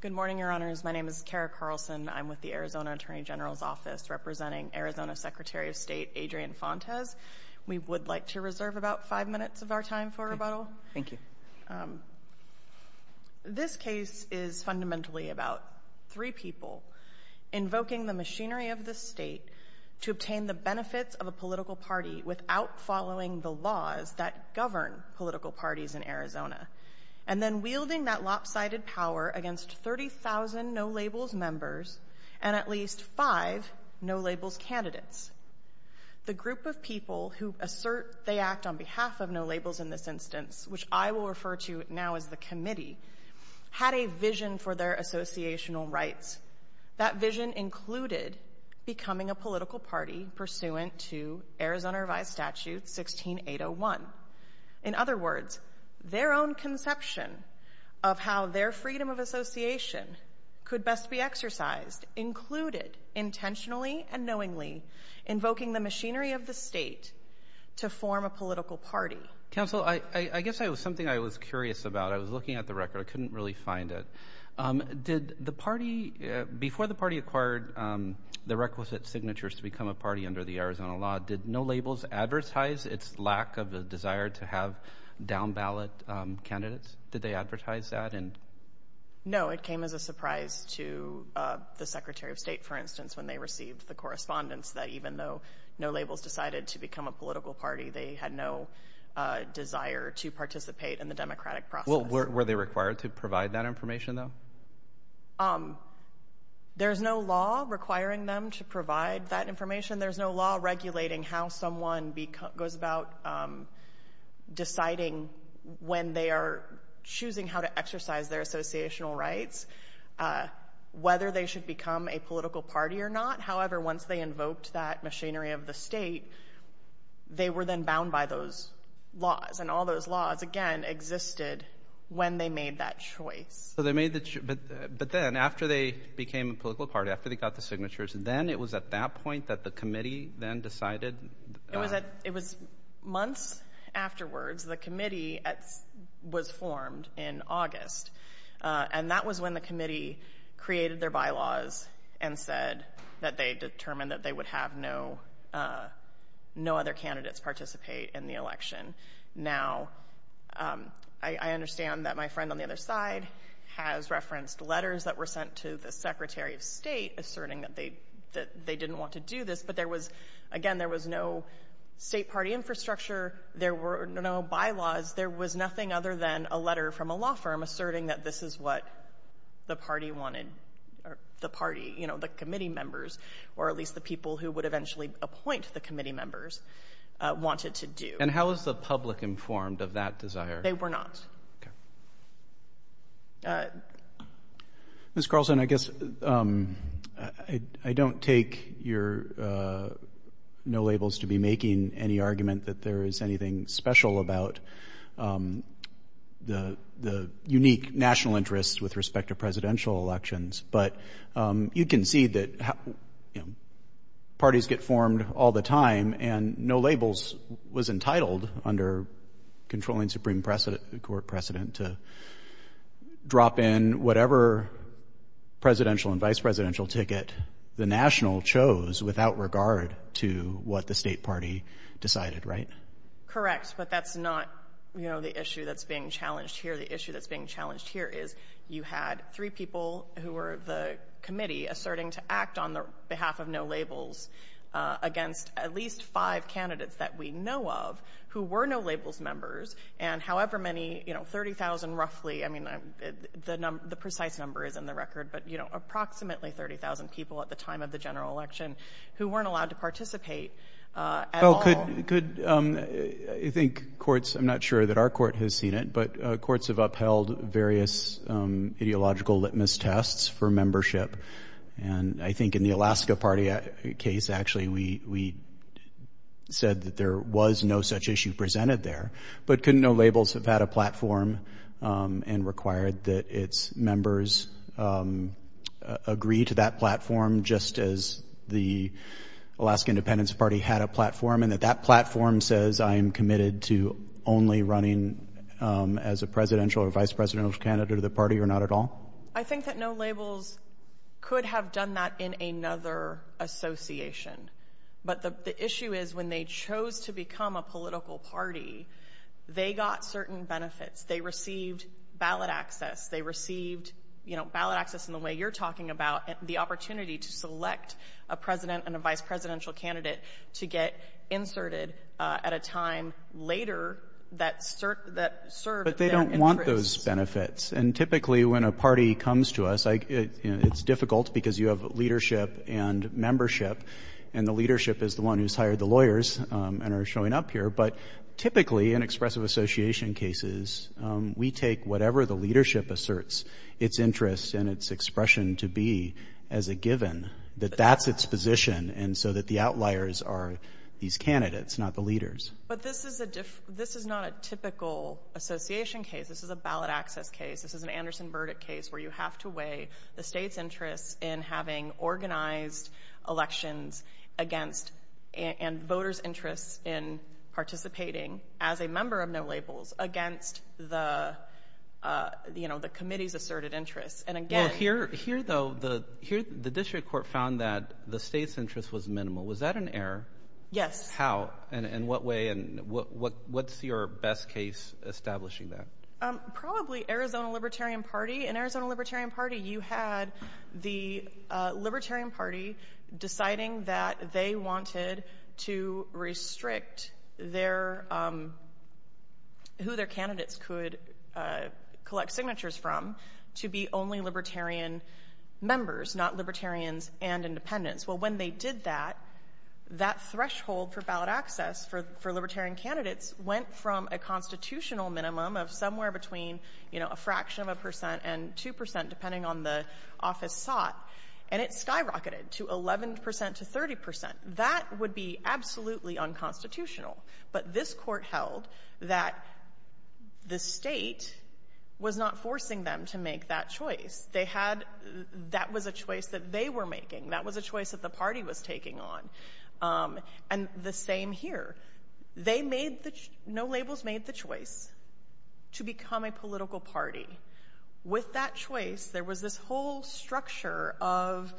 Good morning, Your Honors. My name is Kara Carlson. I'm with the Arizona Attorney General's Office representing Arizona Secretary of State Adrian Fontes. We would like to reserve about five minutes of our time for rebuttal. Thank you. This case is fundamentally about three people invoking the machinery of the state to obtain the benefits of a political party without following the laws that govern political parties in Arizona, and then wielding that lopsided power against 30,000 No Labels members and at least five No Labels candidates. The group of people who assert they act on behalf of No Labels in this instance, which I will refer to now as the committee, had a vision for their associational rights. That vision included becoming a political party pursuant to Arizona Revised Statute 16801. In other words, their own conception of how their freedom of association could best be exercised, included intentionally and knowingly, invoking the machinery of the state to form a political party. Counsel, I guess something I was curious about, I was looking at the record, I couldn't really find it. Did the party, before the party acquired the requisite signatures to become a party under the Arizona law, did No Labels advertise its lack of a desire to have down-ballot candidates? Did they advertise that? No, it came as a surprise to the Secretary of State, for instance, when they received the correspondence that even though No Labels decided to become a political party, they had no desire to participate in the democratic process. Were they required to provide that information, though? There's no law requiring them to provide that information. There's no law regulating how someone goes about deciding when they are choosing how to exercise their associational rights, whether they should become a political party or not. However, once they invoked that machinery of the state, they were then bound by those laws. And all those laws, again, existed when they made that choice. But then, after they became a political party, after they got the signatures, then it was at that point that the committee then decided? It was months afterwards. The committee was formed in August, and that was when the committee created their bylaws and said that they determined that they would have no other candidates participate in the election. Now, I understand that my friend on the other side has referenced letters that were sent to the Secretary of State asserting that they didn't want to do this, but there was, again, there was no state party infrastructure. There were no bylaws. There was nothing other than a letter from a law firm asserting that this is what the party wanted, or the party, you know, the committee members, or at least the people who would eventually appoint the committee members, wanted to do. And how was the public informed of that desire? They were not. Ms. Carlson, I guess I don't take your no labels to be making any argument that there is anything special about the unique national interests with respect to presidential elections, but you can see that, you know, parties get formed all the time, and no labels was entitled under controlling Supreme Court precedent to drop in whatever presidential and vice-presidential ticket the national chose without regard to what the state party decided, right? Correct, but that's not, you know, the issue that's being challenged here. The issue that's being challenged here is you had three people who were the committee asserting to act on the behalf of no labels against at least five candidates that we know of who were no labels members, and however many, you know, 30,000 roughly, I mean, the precise number is in the record, but, you know, approximately 30,000 people at the time of the general election who weren't allowed to participate at all. Well, could, I think courts, I'm not sure that our court has seen it, but courts have held various ideological litmus tests for membership, and I think in the Alaska Party case, actually, we said that there was no such issue presented there, but couldn't know labels have had a platform and required that its members agree to that platform just as the Alaska Independence Party had a platform, and that that platform says I am committed to only running as a presidential or vice-presidential candidate of the party or not at all? I think that no labels could have done that in another association, but the issue is when they chose to become a political party, they got certain benefits. They received ballot access. They received, you know, ballot access in the way you're talking about, the opportunity to select a president and a vice-presidential candidate to get inserted at a time later that served their interests. But they don't want those benefits, and typically when a party comes to us, it's difficult because you have leadership and membership, and the leadership is the one who's hired the lawyers and are showing up here, but typically in expressive association cases, we take whatever the leadership asserts its interests and its expression to be as a given, that that's its position, and so that the outliers are these candidates, not the leaders. But this is not a typical association case. This is a ballot access case. This is an Anderson Burdick case where you have to weigh the state's interest in having organized elections against and voters' interests in participating as a member of No Labels against the, you know, the committee's asserted interests, and again- Well, here though, the district court found that the state's interest was minimal. Was that an error? Yes. How, and in what way, and what's your best case establishing that? Probably Arizona Libertarian Party. In Arizona Libertarian Party, you had the Libertarian Party deciding that they wanted to restrict their, who their candidates could collect signatures from to be only libertarian members, not libertarians and independents. Well, when they did that, that threshold for ballot access for libertarian candidates went from a constitutional minimum of somewhere between, you know, a fraction of a percent and two percent, depending on the office sought, and it skyrocketed to 11 percent to 30 percent. That would be absolutely unconstitutional. But this court held that the state was not forcing them to make that choice. They had, that was a choice that they were making. That was a choice that the party was taking on. And the same here. They made the, No Labels made the choice to become a political party. With that choice, there was this whole structure of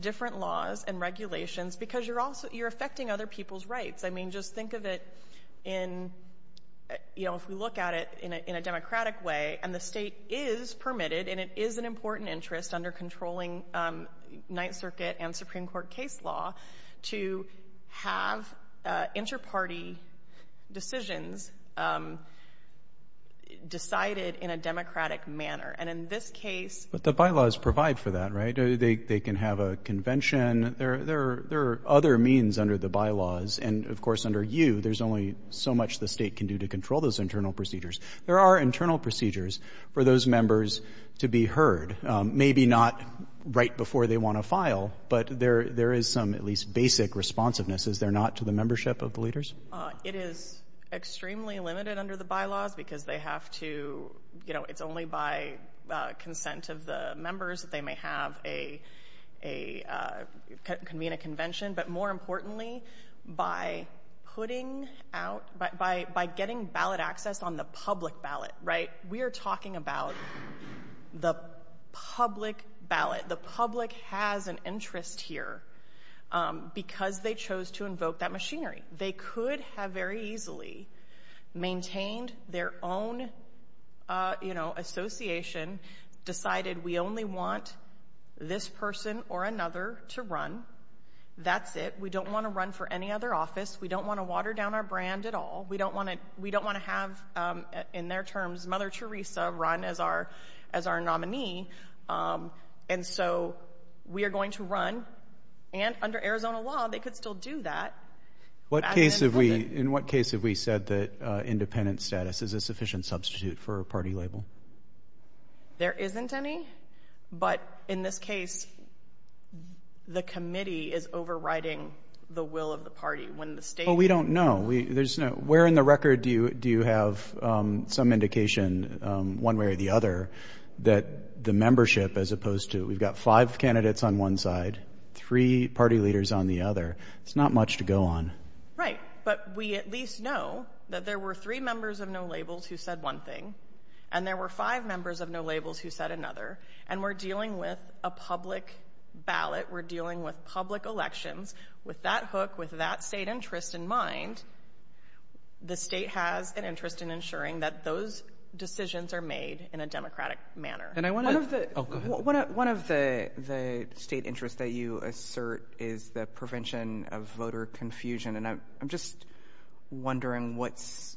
different laws and regulations, because you're also, you're affecting other people's rights. I mean, just think of it in, you know, if we look at it in a democratic way, and the state is permitted, and it is an important interest under controlling Ninth Circuit and Supreme Court, there are other means under the bylaws. And, of course, under you, there's only so much the state can do to control those internal procedures. There are internal procedures for those members to be heard. Maybe not right before they want to file, but there is some, at least, basic responsiveness, is there not, to the membership of the leaders? It is extremely limited under the bylaws, because they have to, you know, it's only by consent of the members that they may have a, convene a convention. But more importantly, by putting out, by getting ballot access on the public ballot, right? We are talking about the public ballot. The public has an interest here, because they chose to invoke that machinery. They could have very easily maintained their own, you know, association, decided we only want this person or another to run. That's it. We don't want to run for any other office. We don't want to water down our brand at all. We don't want to, we don't want to have, in their terms, Mother Teresa run as our, as our nominee. And so, we are going to run, and under Arizona law, they could still do that. What case have we, in what case have we said that independent status is a sufficient substitute for a party label? There isn't any, but in this case, the committee is overriding the will of the party, when the state... No, there's no, where in the record do you have some indication, one way or the other, that the membership, as opposed to, we've got five candidates on one side, three party leaders on the other. It's not much to go on. Right, but we at least know that there were three members of No Labels who said one thing, and there were five members of No Labels who said another, and we're dealing with a public party. So, in my mind, the state has an interest in ensuring that those decisions are made in a democratic manner. And I want to, oh, go ahead. One of the state interests that you assert is the prevention of voter confusion, and I'm just wondering what's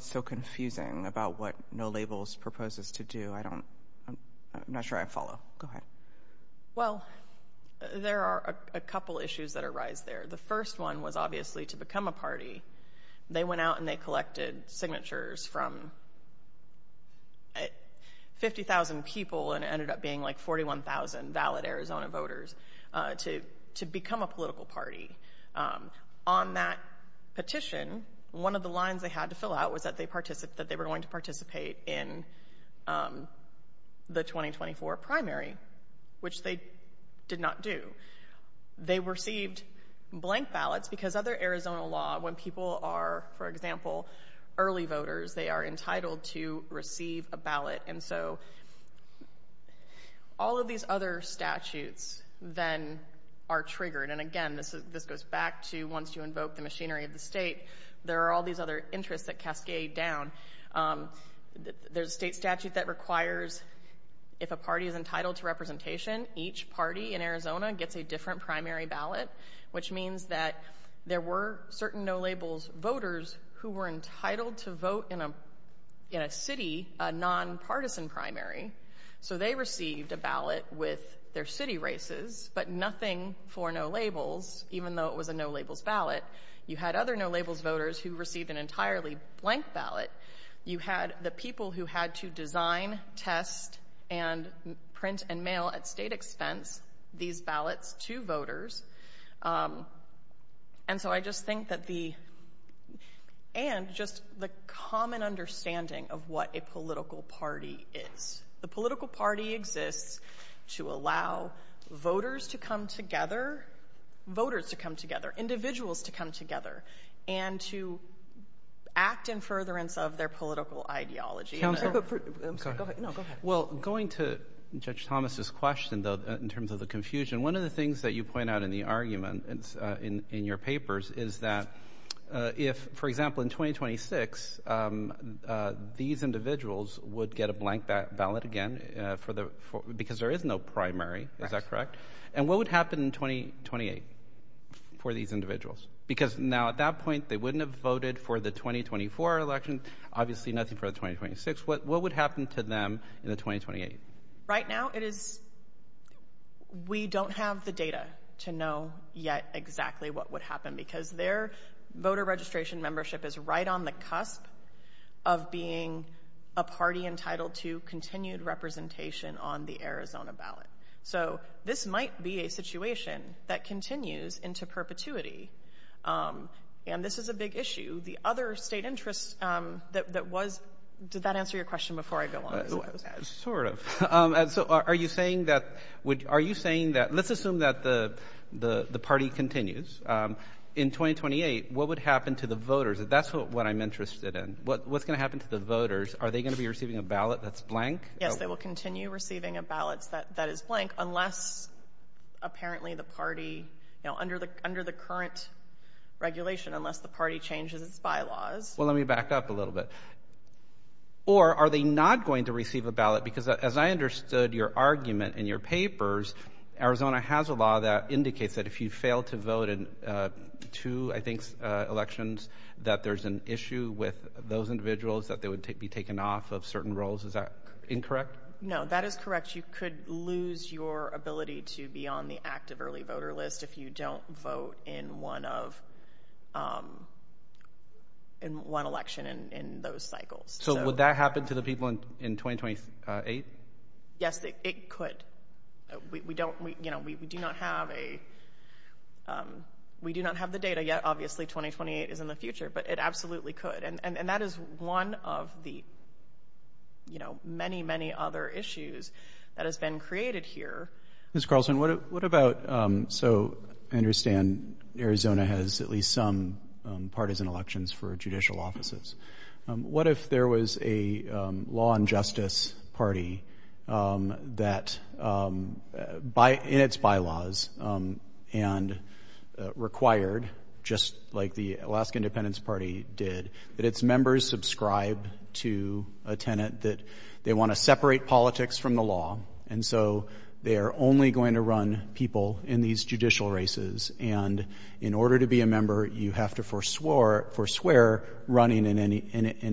so confusing about what No Labels proposes to do. I don't, I'm not sure I follow. Go ahead. Well, there are a couple issues that arise there. The first one was obviously to become a party. They went out and they collected signatures from 50,000 people, and it ended up being like 41,000 valid Arizona voters, to become a political party. On that petition, one of the lines they had to fill out was that they were going to participate in the 2024 primary, which they did not do. They received blank ballots because other Arizona law, when people are, for example, early voters, they are entitled to receive a ballot. And so all of these other statutes then are triggered. And again, this goes back to once you invoke the machinery of the state, there are all these other interests that cascade down. There's a state statute that requires if a party is entitled to representation, each party in Arizona gets a different primary ballot, which means that there were certain No Labels voters who were entitled to vote in a city, a nonpartisan primary. So they received a ballot with their city races, but nothing for No Labels, even though it was a No Labels ballot. You had other No Labels voters who received an entirely blank ballot. You had the people who had to design, test, and print and mail at state expense these ballots to voters. And so I just think that the, and just the common understanding of what a political party is. The political party exists to allow voters to come together, voters to come together, individuals to come together, and to act in furtherance of their political ideology. Counsel, I'm sorry, go ahead. No, go ahead. Well, going to Judge Thomas' question, though, in terms of the confusion, one of the things that you point out in the argument in your papers is that if, for example, in 2026, these individuals would get a blank ballot again because there is no primary, is that correct? And what would happen in 2028 for these individuals? Because now, at that point, they wouldn't have voted for the 2024 election, obviously nothing for the 2026. What would happen to them in the 2028? Right now, it is, we don't have the data to know yet exactly what would happen because their voter registration membership is right on the cusp of being a party entitled to continued representation on the Arizona ballot. So this might be a situation that continues into perpetuity, and this is a big issue. The other state interest that was, did that answer your question before I go on? Sort of. So are you saying that, let's assume that the party continues. In 2028, what would happen to the voters? That's what I'm interested in. What's going to happen to the voters? Are they going to be receiving a ballot that's blank? Yes, they will continue receiving ballots that is blank unless, apparently, the party, under the current regulation, unless the party changes its bylaws. Well, let me back up a little bit. Or are they not going to receive a ballot? Because as I understood your argument in your papers, Arizona has a law that indicates that if you fail to vote in two, I think, elections, that there's an issue with those individuals, that they would be taken off of certain roles. Is that incorrect? No, that is correct. You could lose your ability to be on the active early voter list if you don't vote in one election in those cycles. So would that happen to the people in 2028? Yes, it could. We do not have the data yet. Obviously, 2028 is in the future, but it absolutely could. And that is one of the many, many other issues that has been created here. Ms. Carlson, what about, so I understand Arizona has at least some partisan elections for judicial offices. What if there was a law and justice party that, in its bylaws, and required, just like the Alaska Independence Party did, that its members subscribe to a tenant that they want to separate politics from the law, and so they are only going to run people in these judicial races. And in order to be a member, you have to forswear running in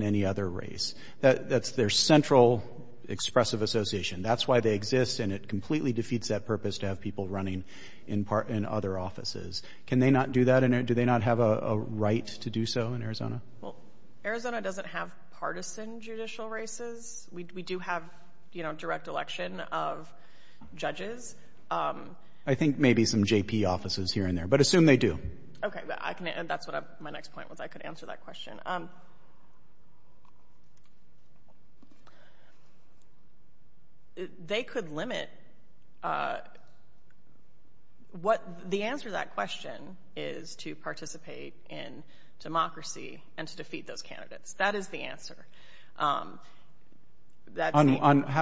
any other race. That's their central expressive association. That's why they exist, and it completely defeats that purpose to have people running in other offices. Can they not do that, and do they not have a right to do so in Arizona? Well, Arizona doesn't have partisan judicial races. We do have, you know, direct election of judges. I think maybe some JP offices here and there, but assume they do. Okay, I can, and that's what my next point was. I could answer that question. They could limit, what the answer to that question is to participate in democracy and to defeat those candidates. That is the answer. How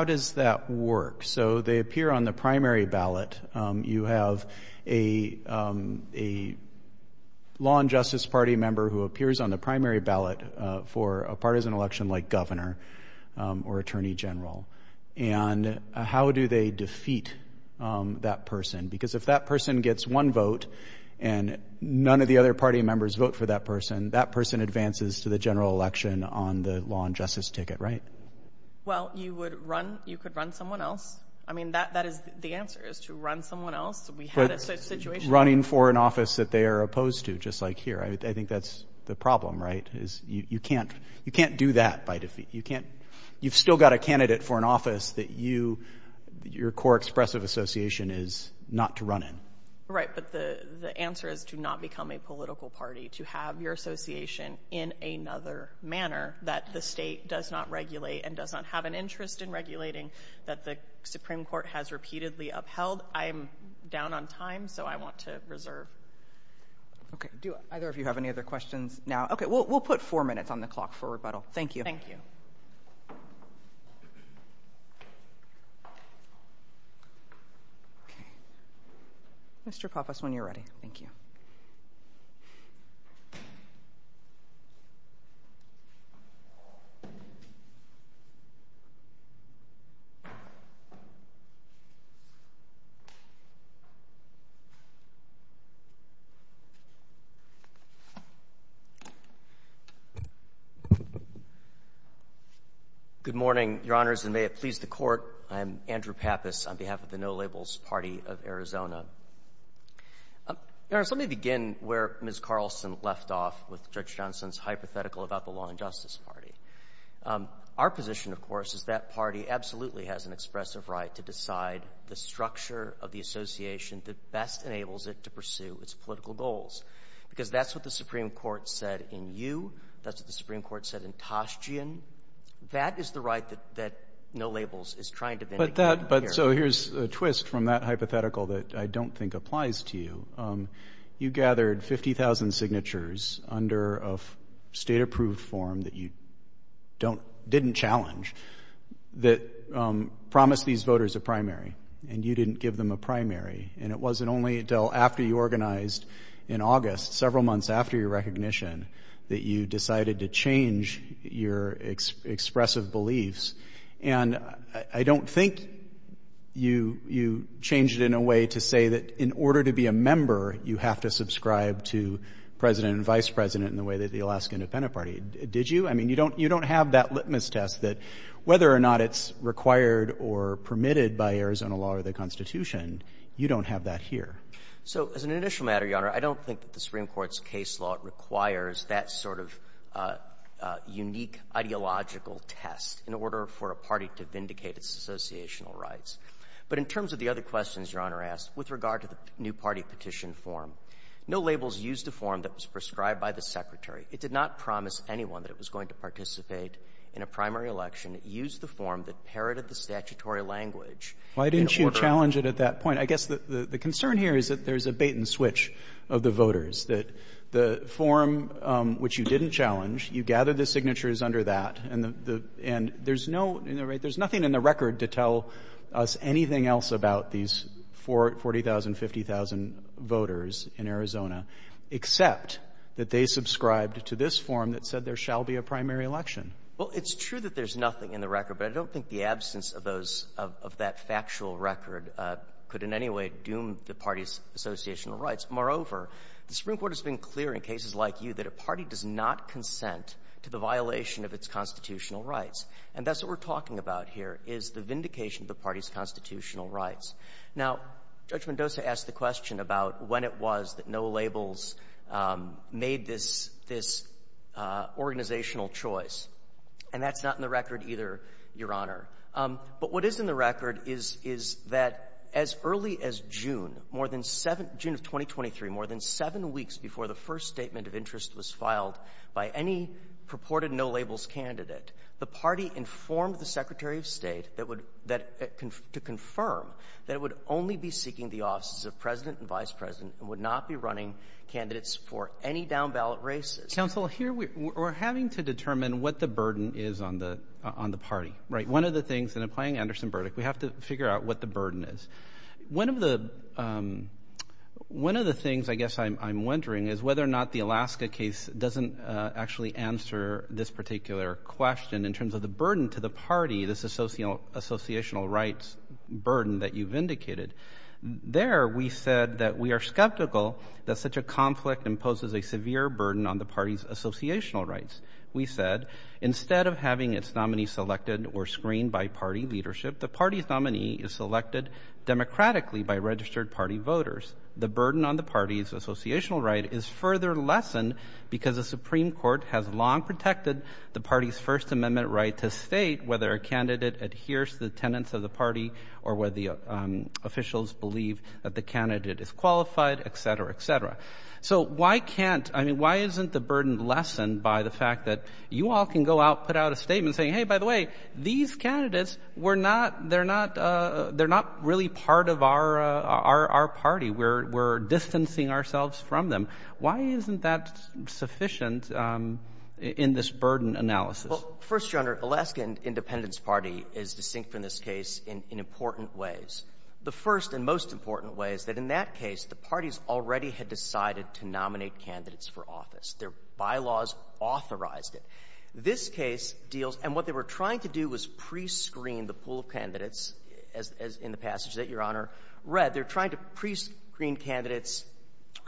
does that work? So they appear on the primary ballot. You have a law and justice party member who appears on the primary ballot for a partisan election, like governor or attorney general, and how do they defeat that person? Because if that person gets one vote and none of the other party members vote for that person, that person advances to the general election on the law and justice ticket, right? Well, you would run, you could run someone else. I mean, that is the answer, is to run someone else. We had a situation. Running for an office that they are opposed to, just like here. I think that's the problem, right? You can't do that by defeat. You've still got a candidate for an office that your core expressive association is not to run in. Right, but the answer is to not become a political party, to have your association in another manner that the state does not regulate and does not have an interest in regulating, that the Supreme Court has repeatedly upheld. I'm down on time, so I want to reserve. Okay, do either of you have any other questions now? Okay, we'll put four minutes on the clock for rebuttal. Thank you. Thank you. Mr. Pappas, when you're ready. Thank you. Good morning, Your Honors, and may it please the Court. I am Andrew Pappas on behalf of the No Labels Party of Arizona. Your Honors, let me begin where Ms. Carlson left off with Judge Johnson's hypothetical about the law and justice party. Our position, of course, is that party absolutely has an expressive right to decide the structure of the association that best enables it to pursue its political goals, because that's what the Supreme Court said in Yu. That's what the Supreme Court said in Toschean. That is the right that No Labels is trying to vindicate here. But so here's a twist from that hypothetical that I don't think applies to you. You gathered 50,000 signatures under a state-approved form that you didn't challenge that promised these voters a primary, and you didn't give them a primary. And it wasn't only until after you organized in August, several months after your recognition, that you decided to change your expressive beliefs. And I don't think you changed it in a way to say that in order to be a member, you have to subscribe to president and vice president in the way that the Alaska Independent Party did. Did you? I mean, you don't have that litmus test that whether or not it's required or permitted by Arizona law or the Constitution, you don't have that here. So as an initial matter, Your Honor, I don't think that the Supreme Court's case law requires that sort of unique ideological test in order for a party to vindicate its associational rights. But in terms of the other questions Your Honor asked, with regard to the new party petition form, No Labels used a form that was prescribed by the Secretary. It did not promise anyone that it was going to participate in a primary election. It used the form that parroted the statutory language in order Why didn't you challenge it at that point? I guess the concern here is that there's a bait-and-switch of the voters, that the form which you didn't challenge, you gathered the signatures under that, and there's nothing in the record to tell us anything else about these 40,000, 50,000 voters in Arizona, except that they subscribed to this form that said there shall be a primary election. Well, it's true that there's nothing in the record, but I don't think the absence of those of that factual record could in any way doom the party's associational rights. Moreover, the Supreme Court has been clear in cases like you that a party does not consent to the violation of its constitutional rights. And that's what we're talking about here, is the vindication of the party's constitutional rights. Now, Judge Mendoza asked the question about when it was that No Labels made this organizational choice. And that's not in the record either, Your Honor. But what is in the record is that as early as June, more than seven — June of 2023, more than seven weeks before the first statement of interest was filed by any purported No Labels candidate, the party informed the Secretary of State that would — that — to confirm that it would only be seeking the offices of President and Vice President and would not be running candidates for any down-ballot races. Counsel, here we — we're having to determine what the burden is on the — on the party, right? One of the things — and I'm playing Anderson Burdick. We have to figure out what the burden is. One of the — one of the things, I guess, I'm — I'm wondering is whether or not the Alaska case doesn't actually answer this particular question in terms of the burden to the party, this associational — associational rights burden that you've indicated. There, we said that we are skeptical that such a conflict imposes a severe burden on the party's associational rights. We said, instead of having its nominee selected or screened by party leadership, the party's nominee is selected democratically by registered party voters. The burden on the party's associational right is further lessened because the Supreme Court has long protected the party's First Amendment right to state whether a candidate adheres to the tenets of the party or whether the officials believe that the candidate is qualified, et cetera, et cetera. So why can't — I mean, why isn't the burden lessened by the fact that you all can go out, put out a statement saying, hey, by the way, these candidates were not — they're not — they're not really part of our — our party. We're — we're distancing ourselves from them. Why isn't that sufficient in this burden analysis? Well, First General, Alaska Independence Party is distinct from this case in — in important ways. The first and most important way is that in that case, the parties already had decided to nominate candidates for office. Their bylaws authorized it. This case deals — and what they were trying to do was prescreen the pool of candidates, as — as in the passage that Your Honor read. They're trying to prescreen candidates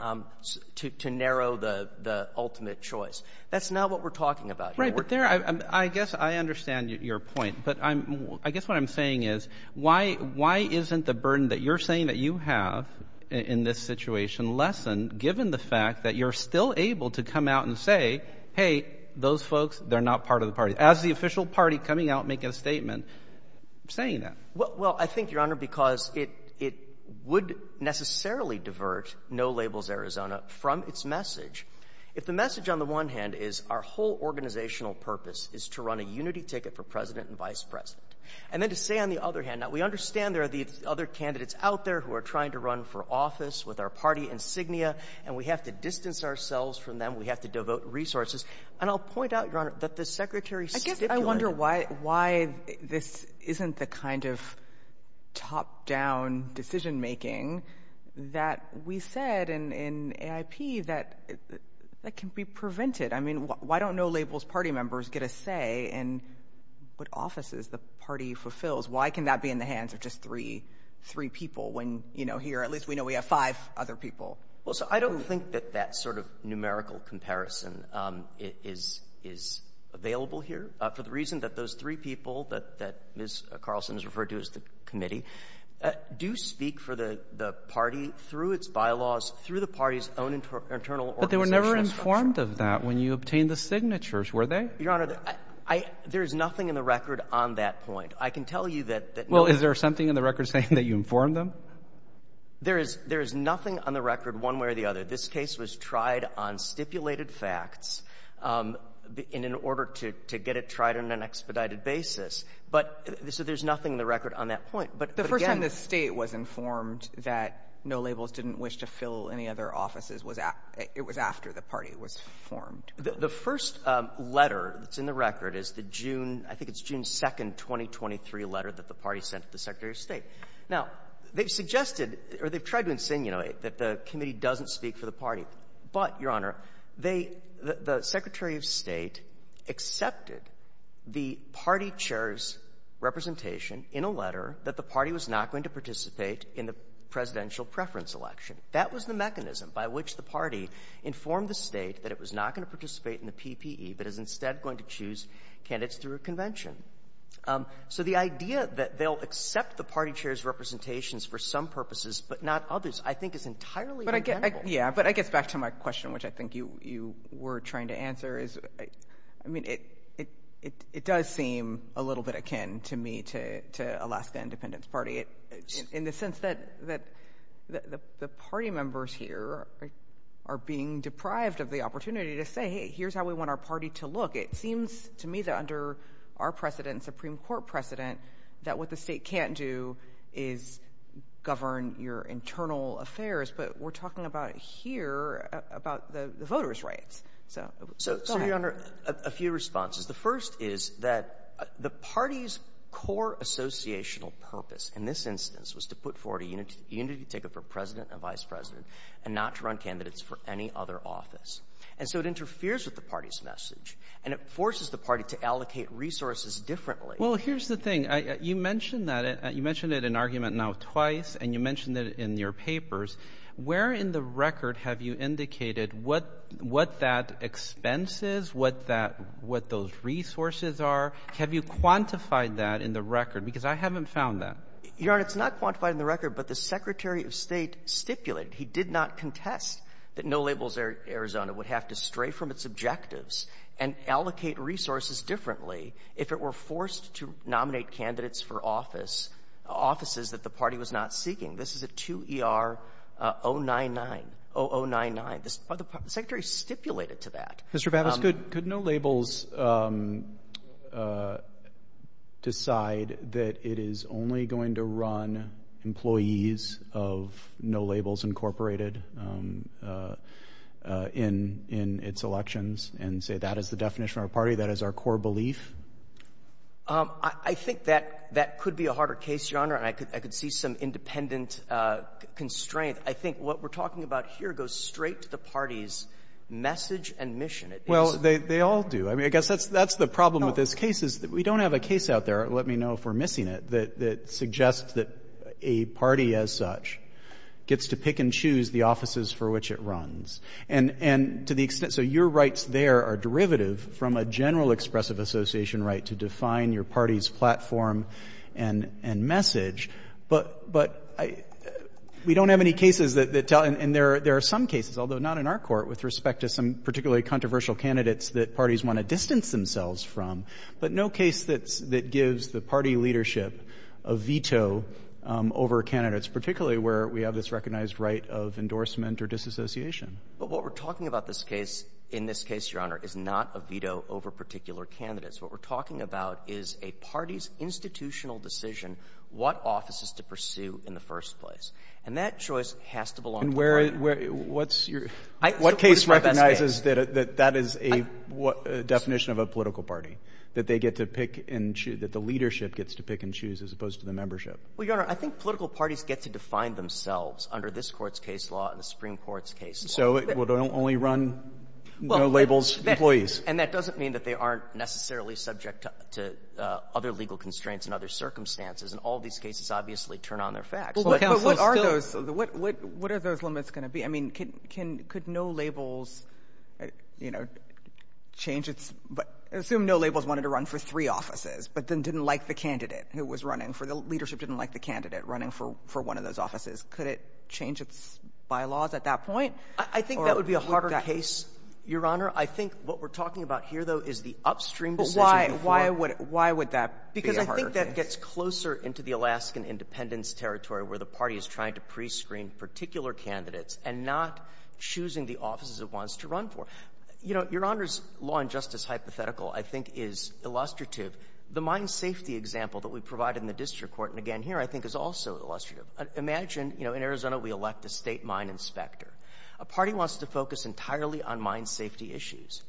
to — to narrow the — the ultimate choice. That's not what we're talking about. Right. But there — I guess I understand your point. But I'm — I guess what I'm saying is, why — why isn't the burden that you're saying that you have in this situation lessened, given the fact that you're still able to come out and say, hey, those folks, they're not part of the party? As the official party coming out making a statement saying that. Well — well, I think, Your Honor, because it — it would necessarily divert No Labels Arizona from its message, if the message on the one hand is our whole organizational purpose is to run a unity ticket for president and vice president, and then to say, on the other hand — now, we understand there are these other candidates out there who are trying to run for office with our party insignia, and we have to distance ourselves from them, we have to devote resources. And I'll point out, Your Honor, that the Secretary stipulated — I guess I wonder why — why this isn't the kind of top-down decision-making that we said in — in AIP that — that can be prevented. I mean, why don't No Labels party members get a say in what offices the party fulfills? Why can that be in the hands of just three — three people when, you know, here at least we know we have five other people? Well, so I don't think that that sort of numerical comparison is — is available here, for the reason that those three people that — that Ms. Carlson has referred to as the committee do speak for the — the party through its bylaws, through the party's own internal organizational structure. But they were never informed of that when you obtained the signatures, were they? Your Honor, I — there is nothing in the record on that point. I can tell you that — that — Well, is there something in the record saying that you informed them? There is — there is nothing on the record one way or the other. This case was tried on stipulated facts in — in order to — to get it tried on an expedited basis. But — so there's nothing in the record on that point. But again — The first time the State was informed that No Labels didn't wish to fill any other offices was — it was after the party was formed. The first letter that's in the record is the June — I think it's June 2nd, 2023 letter that the party sent to the Secretary of State. Now, they've suggested — or they've tried to insinuate that the committee doesn't speak for the party. But, Your Honor, they — the Secretary of State accepted the party chair's representation in a letter that the party was not going to participate in the presidential preference election. That was the mechanism by which the party informed the State that it was not going to participate in the PPE, but is instead going to choose candidates through a So the idea that they'll accept the party chair's representations for some purposes, but not others, I think, is entirely undeniable. Yeah, but I guess back to my question, which I think you — you were trying to answer, is — I mean, it — it — it does seem a little bit akin to me to — to Alaska Independence Party, in the sense that — that the party members here are being deprived of the opportunity to say, hey, here's how we want our party to look. It seems to me that under our precedent, Supreme Court precedent, that what the State can't do is govern your internal affairs. But we're talking about it here, about the voters' rights. So — So, Your Honor, a few responses. The first is that the party's core associational purpose in this instance was to put forward a unity ticket for president and vice president and not to run candidates for any other office. And so it interferes with the party's message. And it forces the party to allocate resources differently. Well, here's the thing. I — you mentioned that — you mentioned it in argument now twice, and you mentioned it in your papers. Where in the record have you indicated what — what that expense is, what that — what those resources are? Have you quantified that in the record? Because I haven't found that. Your Honor, it's not quantified in the record, but the Secretary of State stipulated — he did not contest that No Labels Arizona would have to stray from its objectives and allocate resources differently if it were forced to nominate candidates for office — offices that the party was not seeking. This is a 2ER-099 — 0099. The Secretary stipulated to that. Mr. Bates, could — could No Labels decide that it is only going to run employees of No Labels Incorporated in — in its elections and say that is the definition of our party, that is our core belief? I think that — that could be a harder case, Your Honor. And I could — I could see some independent constraint. I think what we're talking about here goes straight to the party's message and mission. Well, they — they all do. I mean, I guess that's — that's the problem with this case is that we don't have a case out there — let me know if we're missing it — that — that suggests that a party as such gets to pick and choose the offices for which it runs. And — and to the extent — so your rights there are derivative from a general expressive association right to define your party's platform and — and message. But — but I — we don't have any cases that tell — and there — there are some cases, although not in our court, with respect to some particularly controversial candidates that parties want to distance themselves from. But no case that — that gives the party leadership a veto over candidates, particularly where we have this recognized right of endorsement or disassociation. But what we're talking about this case — in this case, Your Honor, is not a veto over particular candidates. What we're talking about is a party's institutional decision what offices to pursue in the first place. And that choice has to belong to the party. And where — what's your — what case recognizes that — that that is a definition of a political party? That they get to pick and — that the leadership gets to pick and choose as opposed to the membership? Well, Your Honor, I think political parties get to define themselves under this Court's case law and the Supreme Court's case law. So it would only run no-labels employees. And that doesn't mean that they aren't necessarily subject to — to other legal constraints and other circumstances. And all these cases obviously turn on their facts. But what are those — what are those limits going to be? I mean, can — could no-labels, you know, change its — assume no-labels wanted to run for three offices, but then didn't like the candidate who was running for — the leadership didn't like the candidate running for — for one of those offices. Could it change its bylaws at that point? I think that would be a harder case, Your Honor. I think what we're talking about here, though, is the upstream decision. But why? Why would — why would that be a harder case? Because I think that gets closer into the Alaskan independence territory, where the party is trying to prescreen particular candidates and not choosing the offices it wants to run for. You know, Your Honor's law-and-justice hypothetical, I think, is illustrative. The mine safety example that we provided in the district court, and again here, I think is also illustrative. Imagine, you know, in Arizona we elect a State mine inspector. A party wants to focus entirely on mine safety issues.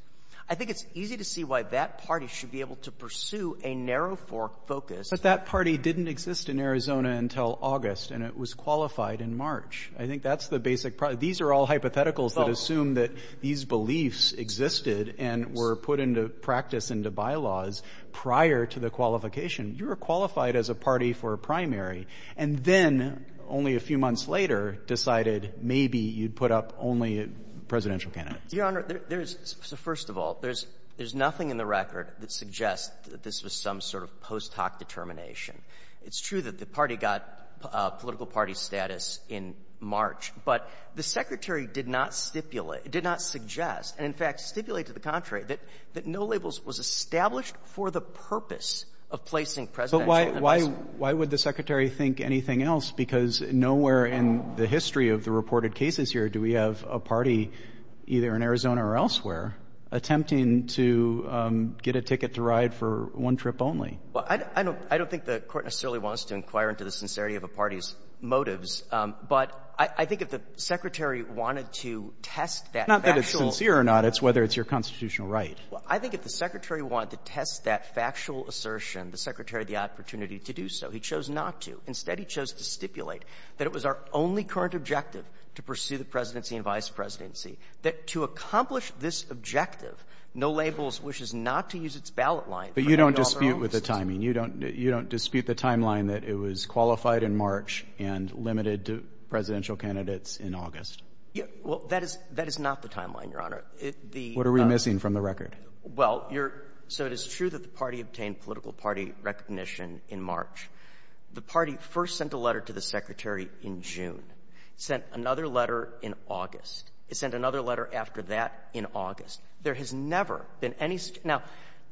I think it's easy to see why that party should be able to pursue a narrow-fork focus. But that party didn't exist in Arizona until August, and it was qualified in March. I think that's the basic — these are all hypotheticals that assume that these beliefs existed and were put into practice into bylaws prior to the qualification. You were qualified as a party for a primary, and then, only a few months later, decided maybe you'd put up only presidential candidates. Your Honor, there's — so first of all, there's — there's nothing in the record that suggests that this was some sort of post-hoc determination. It's true that the party got political party status in March, but the Secretary did not stipulate — did not suggest, and in fact stipulate to the contrary, that no labels was established for the purpose of placing presidential candidates. But why — why would the Secretary think anything else? Because nowhere in the history of the reported cases here do we have a party, either in Arizona or elsewhere, attempting to get a ticket to ride for one trip only. Well, I don't — I don't think the Court necessarily wants to inquire into the sincerity of a party's motives. But I think if the Secretary wanted to test that factual — Not that it's sincere or not. It's whether it's your constitutional right. Well, I think if the Secretary wanted to test that factual assertion, the Secretary had the opportunity to do so. He chose not to. Instead, he chose to stipulate that it was our only current objective to pursue the presidency and vice presidency, that to accomplish this objective, no labels wishes not to use its ballot line for the governor's office. But you don't dispute with the timing. You don't — you don't dispute the timeline that it was qualified in March and limited to presidential candidates in August. Well, that is — that is not the timeline, Your Honor. What are we missing from the record? Well, you're — so it is true that the party obtained political party recognition in March. The party first sent a letter to the Secretary in June, sent another letter in August. It sent another letter after that in August. There has never been any — now,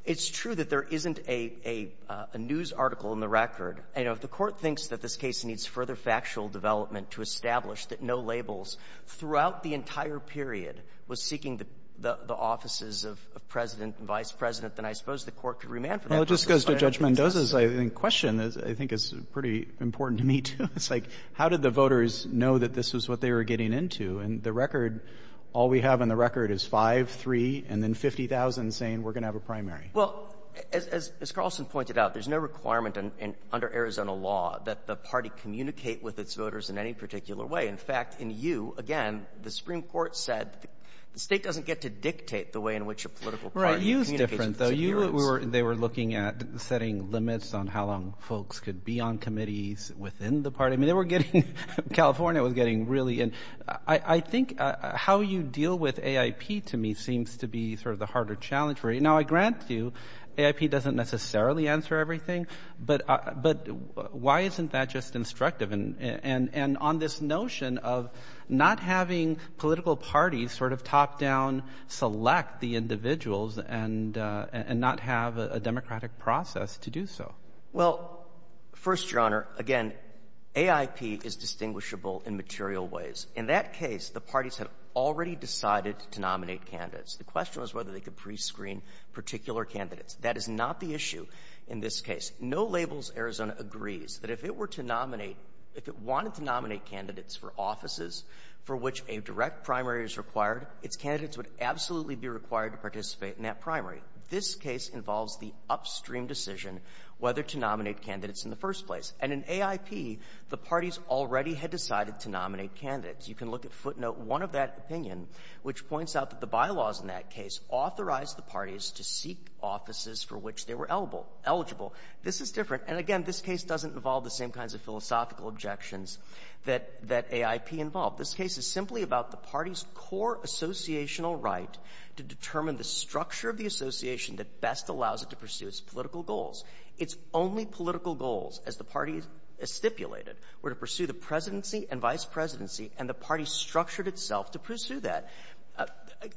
it's true that there isn't a — a news article in the record. You know, if the Court thinks that this case needs further factual development to establish that no labels throughout the entire period was seeking the — the offices of President and Vice President, then I suppose the Court could remand for that. Well, it just goes to Judge Mendoza's, I think, question, as I think is pretty important to me, too. It's like, how did the voters know that this was what they were getting into? And the record — all we have in the record is five, three, and then 50,000 saying, we're going to have a primary. Well, as — as Carlson pointed out, there's no requirement under Arizona law that the party communicate with its voters in any particular way. In fact, in you, again, the Supreme Court said the state doesn't get to dictate the way in which a political party communicates with its viewers. You's different, though. You — they were looking at setting limits on how long folks could be on committees within the party. I mean, they were getting — California was getting really — and I — I — I think how you deal with AIP, to me, seems to be sort of the harder challenge. Now, I grant you, AIP doesn't necessarily answer everything, but — but why isn't that just instructive? And — and on this notion of not having political parties sort of top-down select the individuals and — and not have a democratic process to do so. Well, first, Your Honor, again, AIP is distinguishable in material ways. In that case, the parties have already decided to nominate candidates. The question was whether they could prescreen particular candidates. That is not the issue in this case. No labels Arizona agrees that if it were to nominate — if it wanted to nominate candidates for offices for which a direct primary is required, its candidates would absolutely be required to participate in that primary. This case involves the upstream decision whether to nominate candidates in the first place. And in AIP, the parties already had decided to nominate candidates. You can look at footnote one of that opinion, which points out that the bylaws in that case authorized the parties to seek offices for which they were eligible. This is different. And again, this case doesn't involve the same kinds of philosophical objections that — that AIP involved. This case is simply about the party's core associational right to determine the structure of the association that best allows it to pursue its political goals. Its only political goals, as the parties stipulated, were to pursue the presidency and vice presidency, and the party structured itself to pursue that.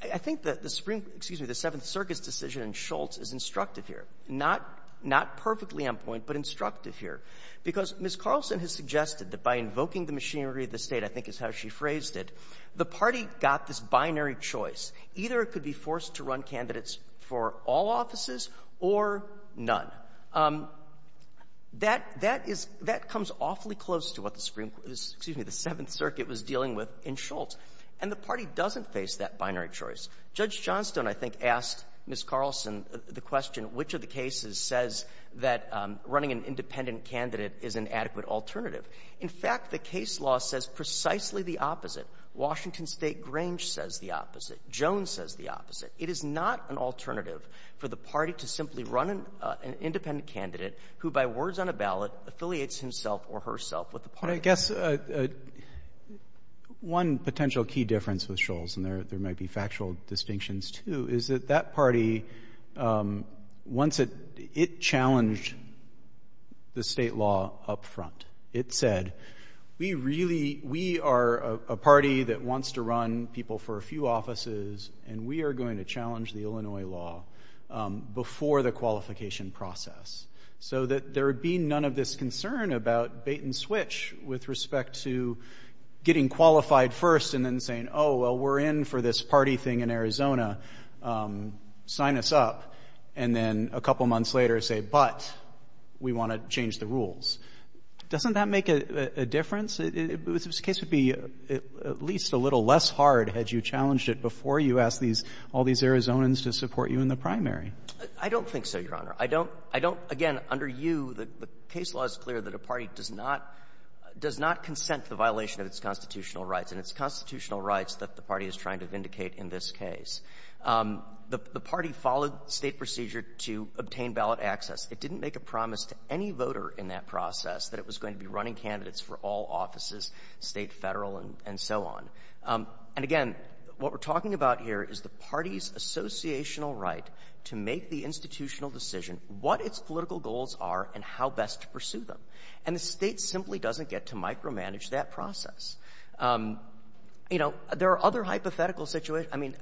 I think that the supreme — excuse me, the Seventh Circuit's decision in Schultz is instructive here. Not — not perfectly on point, but instructive here. Because Ms. Carlson has suggested that by invoking the machinery of the State, I think is how she phrased it, the party got this binary choice. Either it could be forced to run candidates for all offices or none. That — that is — that comes awfully close to what the supreme — excuse me, the Seventh Circuit was dealing with in Schultz. And the party doesn't face that binary choice. Judge Johnstone, I think, asked Ms. Carlson the question, which of the cases says that running an independent candidate is an adequate alternative. In fact, the case law says precisely the opposite. Washington State Grange says the opposite. Jones says the opposite. It is not an alternative for the party to simply run an independent candidate who, by words on a ballot, affiliates himself or herself with the party. But I guess one potential key difference with Schultz, and there might be factual distinctions, too, is that that party, once it — it challenged the state law up front. It said, we really — we are a party that wants to run people for a few offices, and we are going to challenge the Illinois law before the qualification process. So that there would be none of this concern about bait and switch with respect to getting qualified first and then saying, oh, well, we're in for this party thing in Arizona. Sign us up. And then a couple months later say, but we want to change the rules. Doesn't that make a difference? This case would be at least a little less hard had you challenged it before you asked these — all these Arizonans to support you in the primary. I don't think so, Your Honor. I don't — I don't — again, under you, the case law is clear that a party does not — does not consent to the violation of its constitutional rights and its constitutional rights that the party is trying to vindicate in this case. The party followed State procedure to obtain ballot access. It didn't make a promise to any voter in that process that it was going to be running candidates for all offices, State, Federal, and so on. And again, what we're talking about here is the party's associational right to make the institutional decision what its political goals are and how best to pursue them. And the State simply doesn't get to micromanage that process. You know, there are other hypothetical situations — I mean,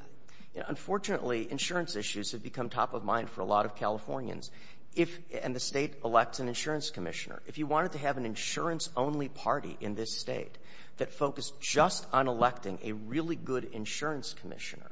unfortunately, insurance issues have become top of mind for a lot of Californians if — and the State elects an insurance commissioner. If you wanted to have an insurance-only party in this State that focused just on electing a really good insurance commissioner,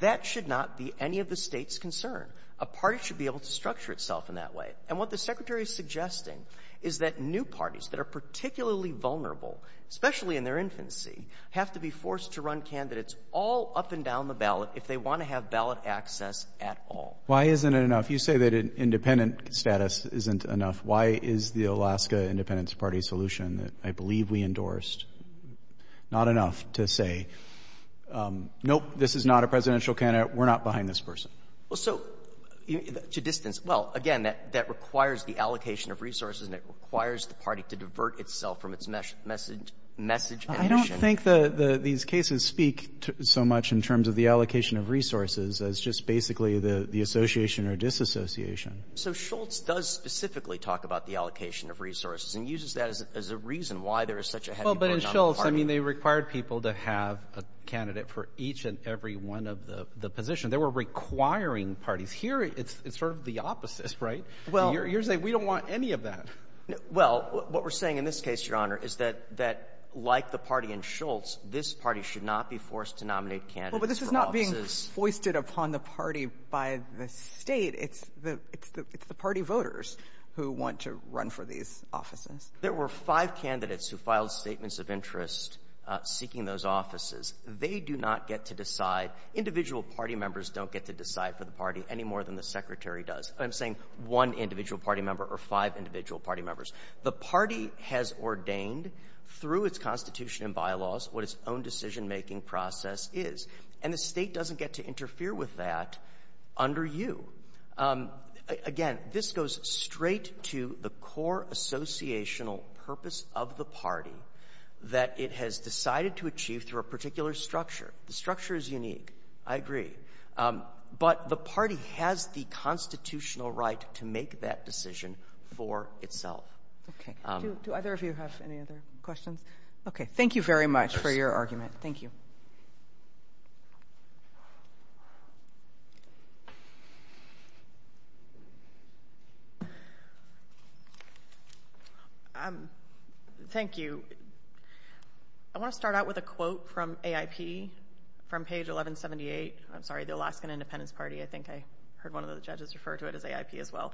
that should not be any of the State's concern. A party should be able to structure itself in that way. And what the Secretary is suggesting is that new parties that are particularly vulnerable, especially in their infancy, have to be forced to run candidates all up and down the ballot if they want to have ballot access at all. Why isn't it enough? You say that an independent status isn't enough. Why is the Alaska Independence Party solution that I believe we endorsed not enough to say, nope, this is not a presidential candidate, we're not behind this person? Well, so to distance — well, again, that requires the allocation of resources and it requires the party to divert itself from its message — message — I don't think the — these cases speak so much in terms of the allocation of resources as just basically the association or disassociation. So Schultz does specifically talk about the allocation of resources and uses that as a reason why there is such a heavy burden on the party. Well, but in Schultz, I mean, they required people to have a candidate for each and every one of the positions. They were requiring parties. Here, it's sort of the opposite, right? You're saying we don't want any of that. Well, what we're saying in this case, Your Honor, is that like the party in Schultz, this party should not be forced to nominate candidates for offices. Well, but this is not being foisted upon the party by the State. It's the — it's the party voters who want to run for these offices. There were five candidates who filed statements of interest seeking those offices. They do not get to decide — individual party members don't get to decide for the party any more than the Secretary does. I'm saying one individual party member or five individual party members. The party has ordained through its constitution and bylaws what its own decision-making process is. And the State doesn't get to interfere with that under you. Again, this goes straight to the core associational purpose of the party that it has decided to achieve through a particular structure. The structure is unique. I agree. But the party has the constitutional right to make that decision for itself. Okay. Do either of you have any other questions? Okay. Thank you very much for your argument. Thank you. Thank you. I want to start out with a quote from AIP from page 1178 — I'm sorry, the Alaskan Independence Party. I think I heard one of the judges refer to it as AIP as well.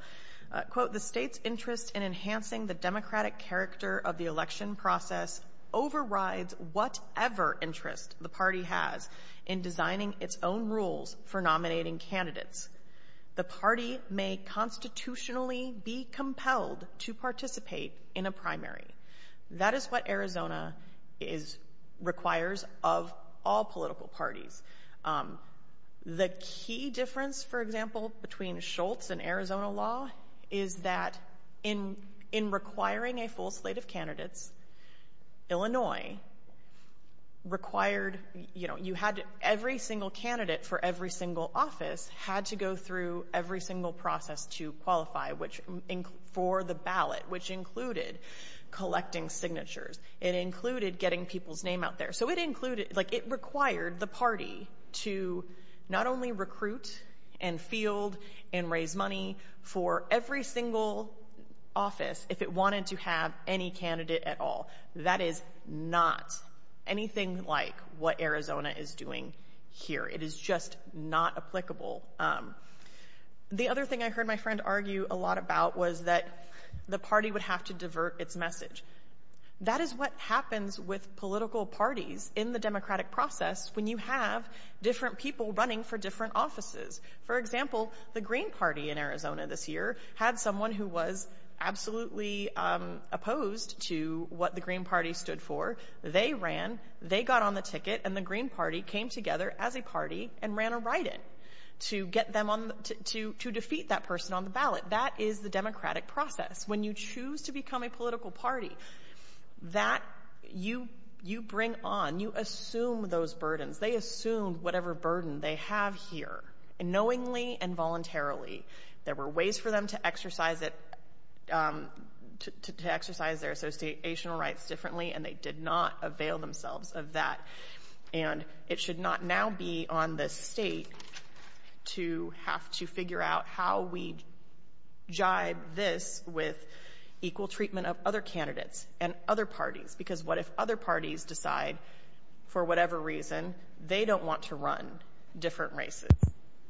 Quote, the State's interest in enhancing the democratic character of the election process overrides whatever interest the party has in designing its own rules for nominating candidates. The party may constitutionally be compelled to participate in a primary. That is what Arizona requires of all political parties. The key difference, for example, between Schultz and Arizona law is that in requiring a full slate of candidates, Illinois required — you know, you had every single candidate for every single office had to go through every single process to qualify for the ballot, which included collecting signatures. It included getting people's name out there. So it included — like, it required the party to not only recruit and field and raise money for every single office if it wanted to have any candidate at all. That is not anything like what Arizona is doing here. It is just not applicable. The other thing I heard my friend argue a lot about was that the party would have to divert its message. That is what happens with political parties in the democratic process when you have different people running for different offices. For example, the Green Party in Arizona this year had someone who was absolutely opposed to what the Green Party stood for. They ran, they got on the ticket, and the Green Party came together as a party and ran a write-in to get them on — to defeat that person on the ballot. That is the democratic process. When you choose to become a political party, that — you bring on, you assume those burdens. They assumed whatever burden they have here, knowingly and voluntarily. There were ways for them to exercise it — to exercise their associational rights differently, and they did not avail themselves of that. And it should not now be on the state to have to figure out how we jibe this with equal treatment of other candidates and other parties. Because what if other parties decide, for whatever reason, they don't want to run different races,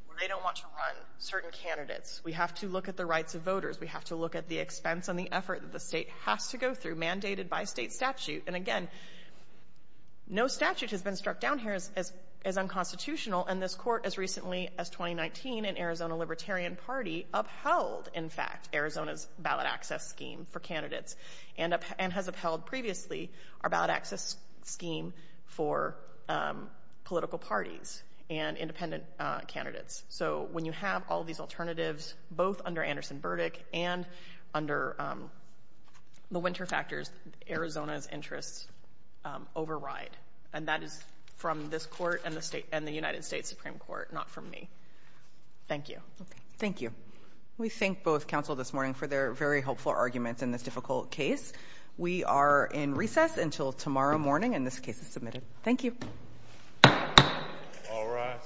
or they don't want to run certain candidates? We have to look at the rights of voters. We have to look at the expense and the effort that the state has to go through, mandated by state statute. And again, no statute has been struck down here as unconstitutional in this Court as recently as 2019, and Arizona Libertarian Party upheld, in fact, Arizona's ballot access scheme for candidates, and has upheld previously our ballot access scheme for political parties and independent candidates. So when you have all these alternatives, both under Anderson-Burdick and under the winter factors, Arizona's interests override. And that is from this Court and the United States Supreme Court, not from me. Thank you. Thank you. We thank both counsel this morning for their very helpful arguments in this difficult case. We are in recess until tomorrow morning, and this case is submitted. Thank you. All rise.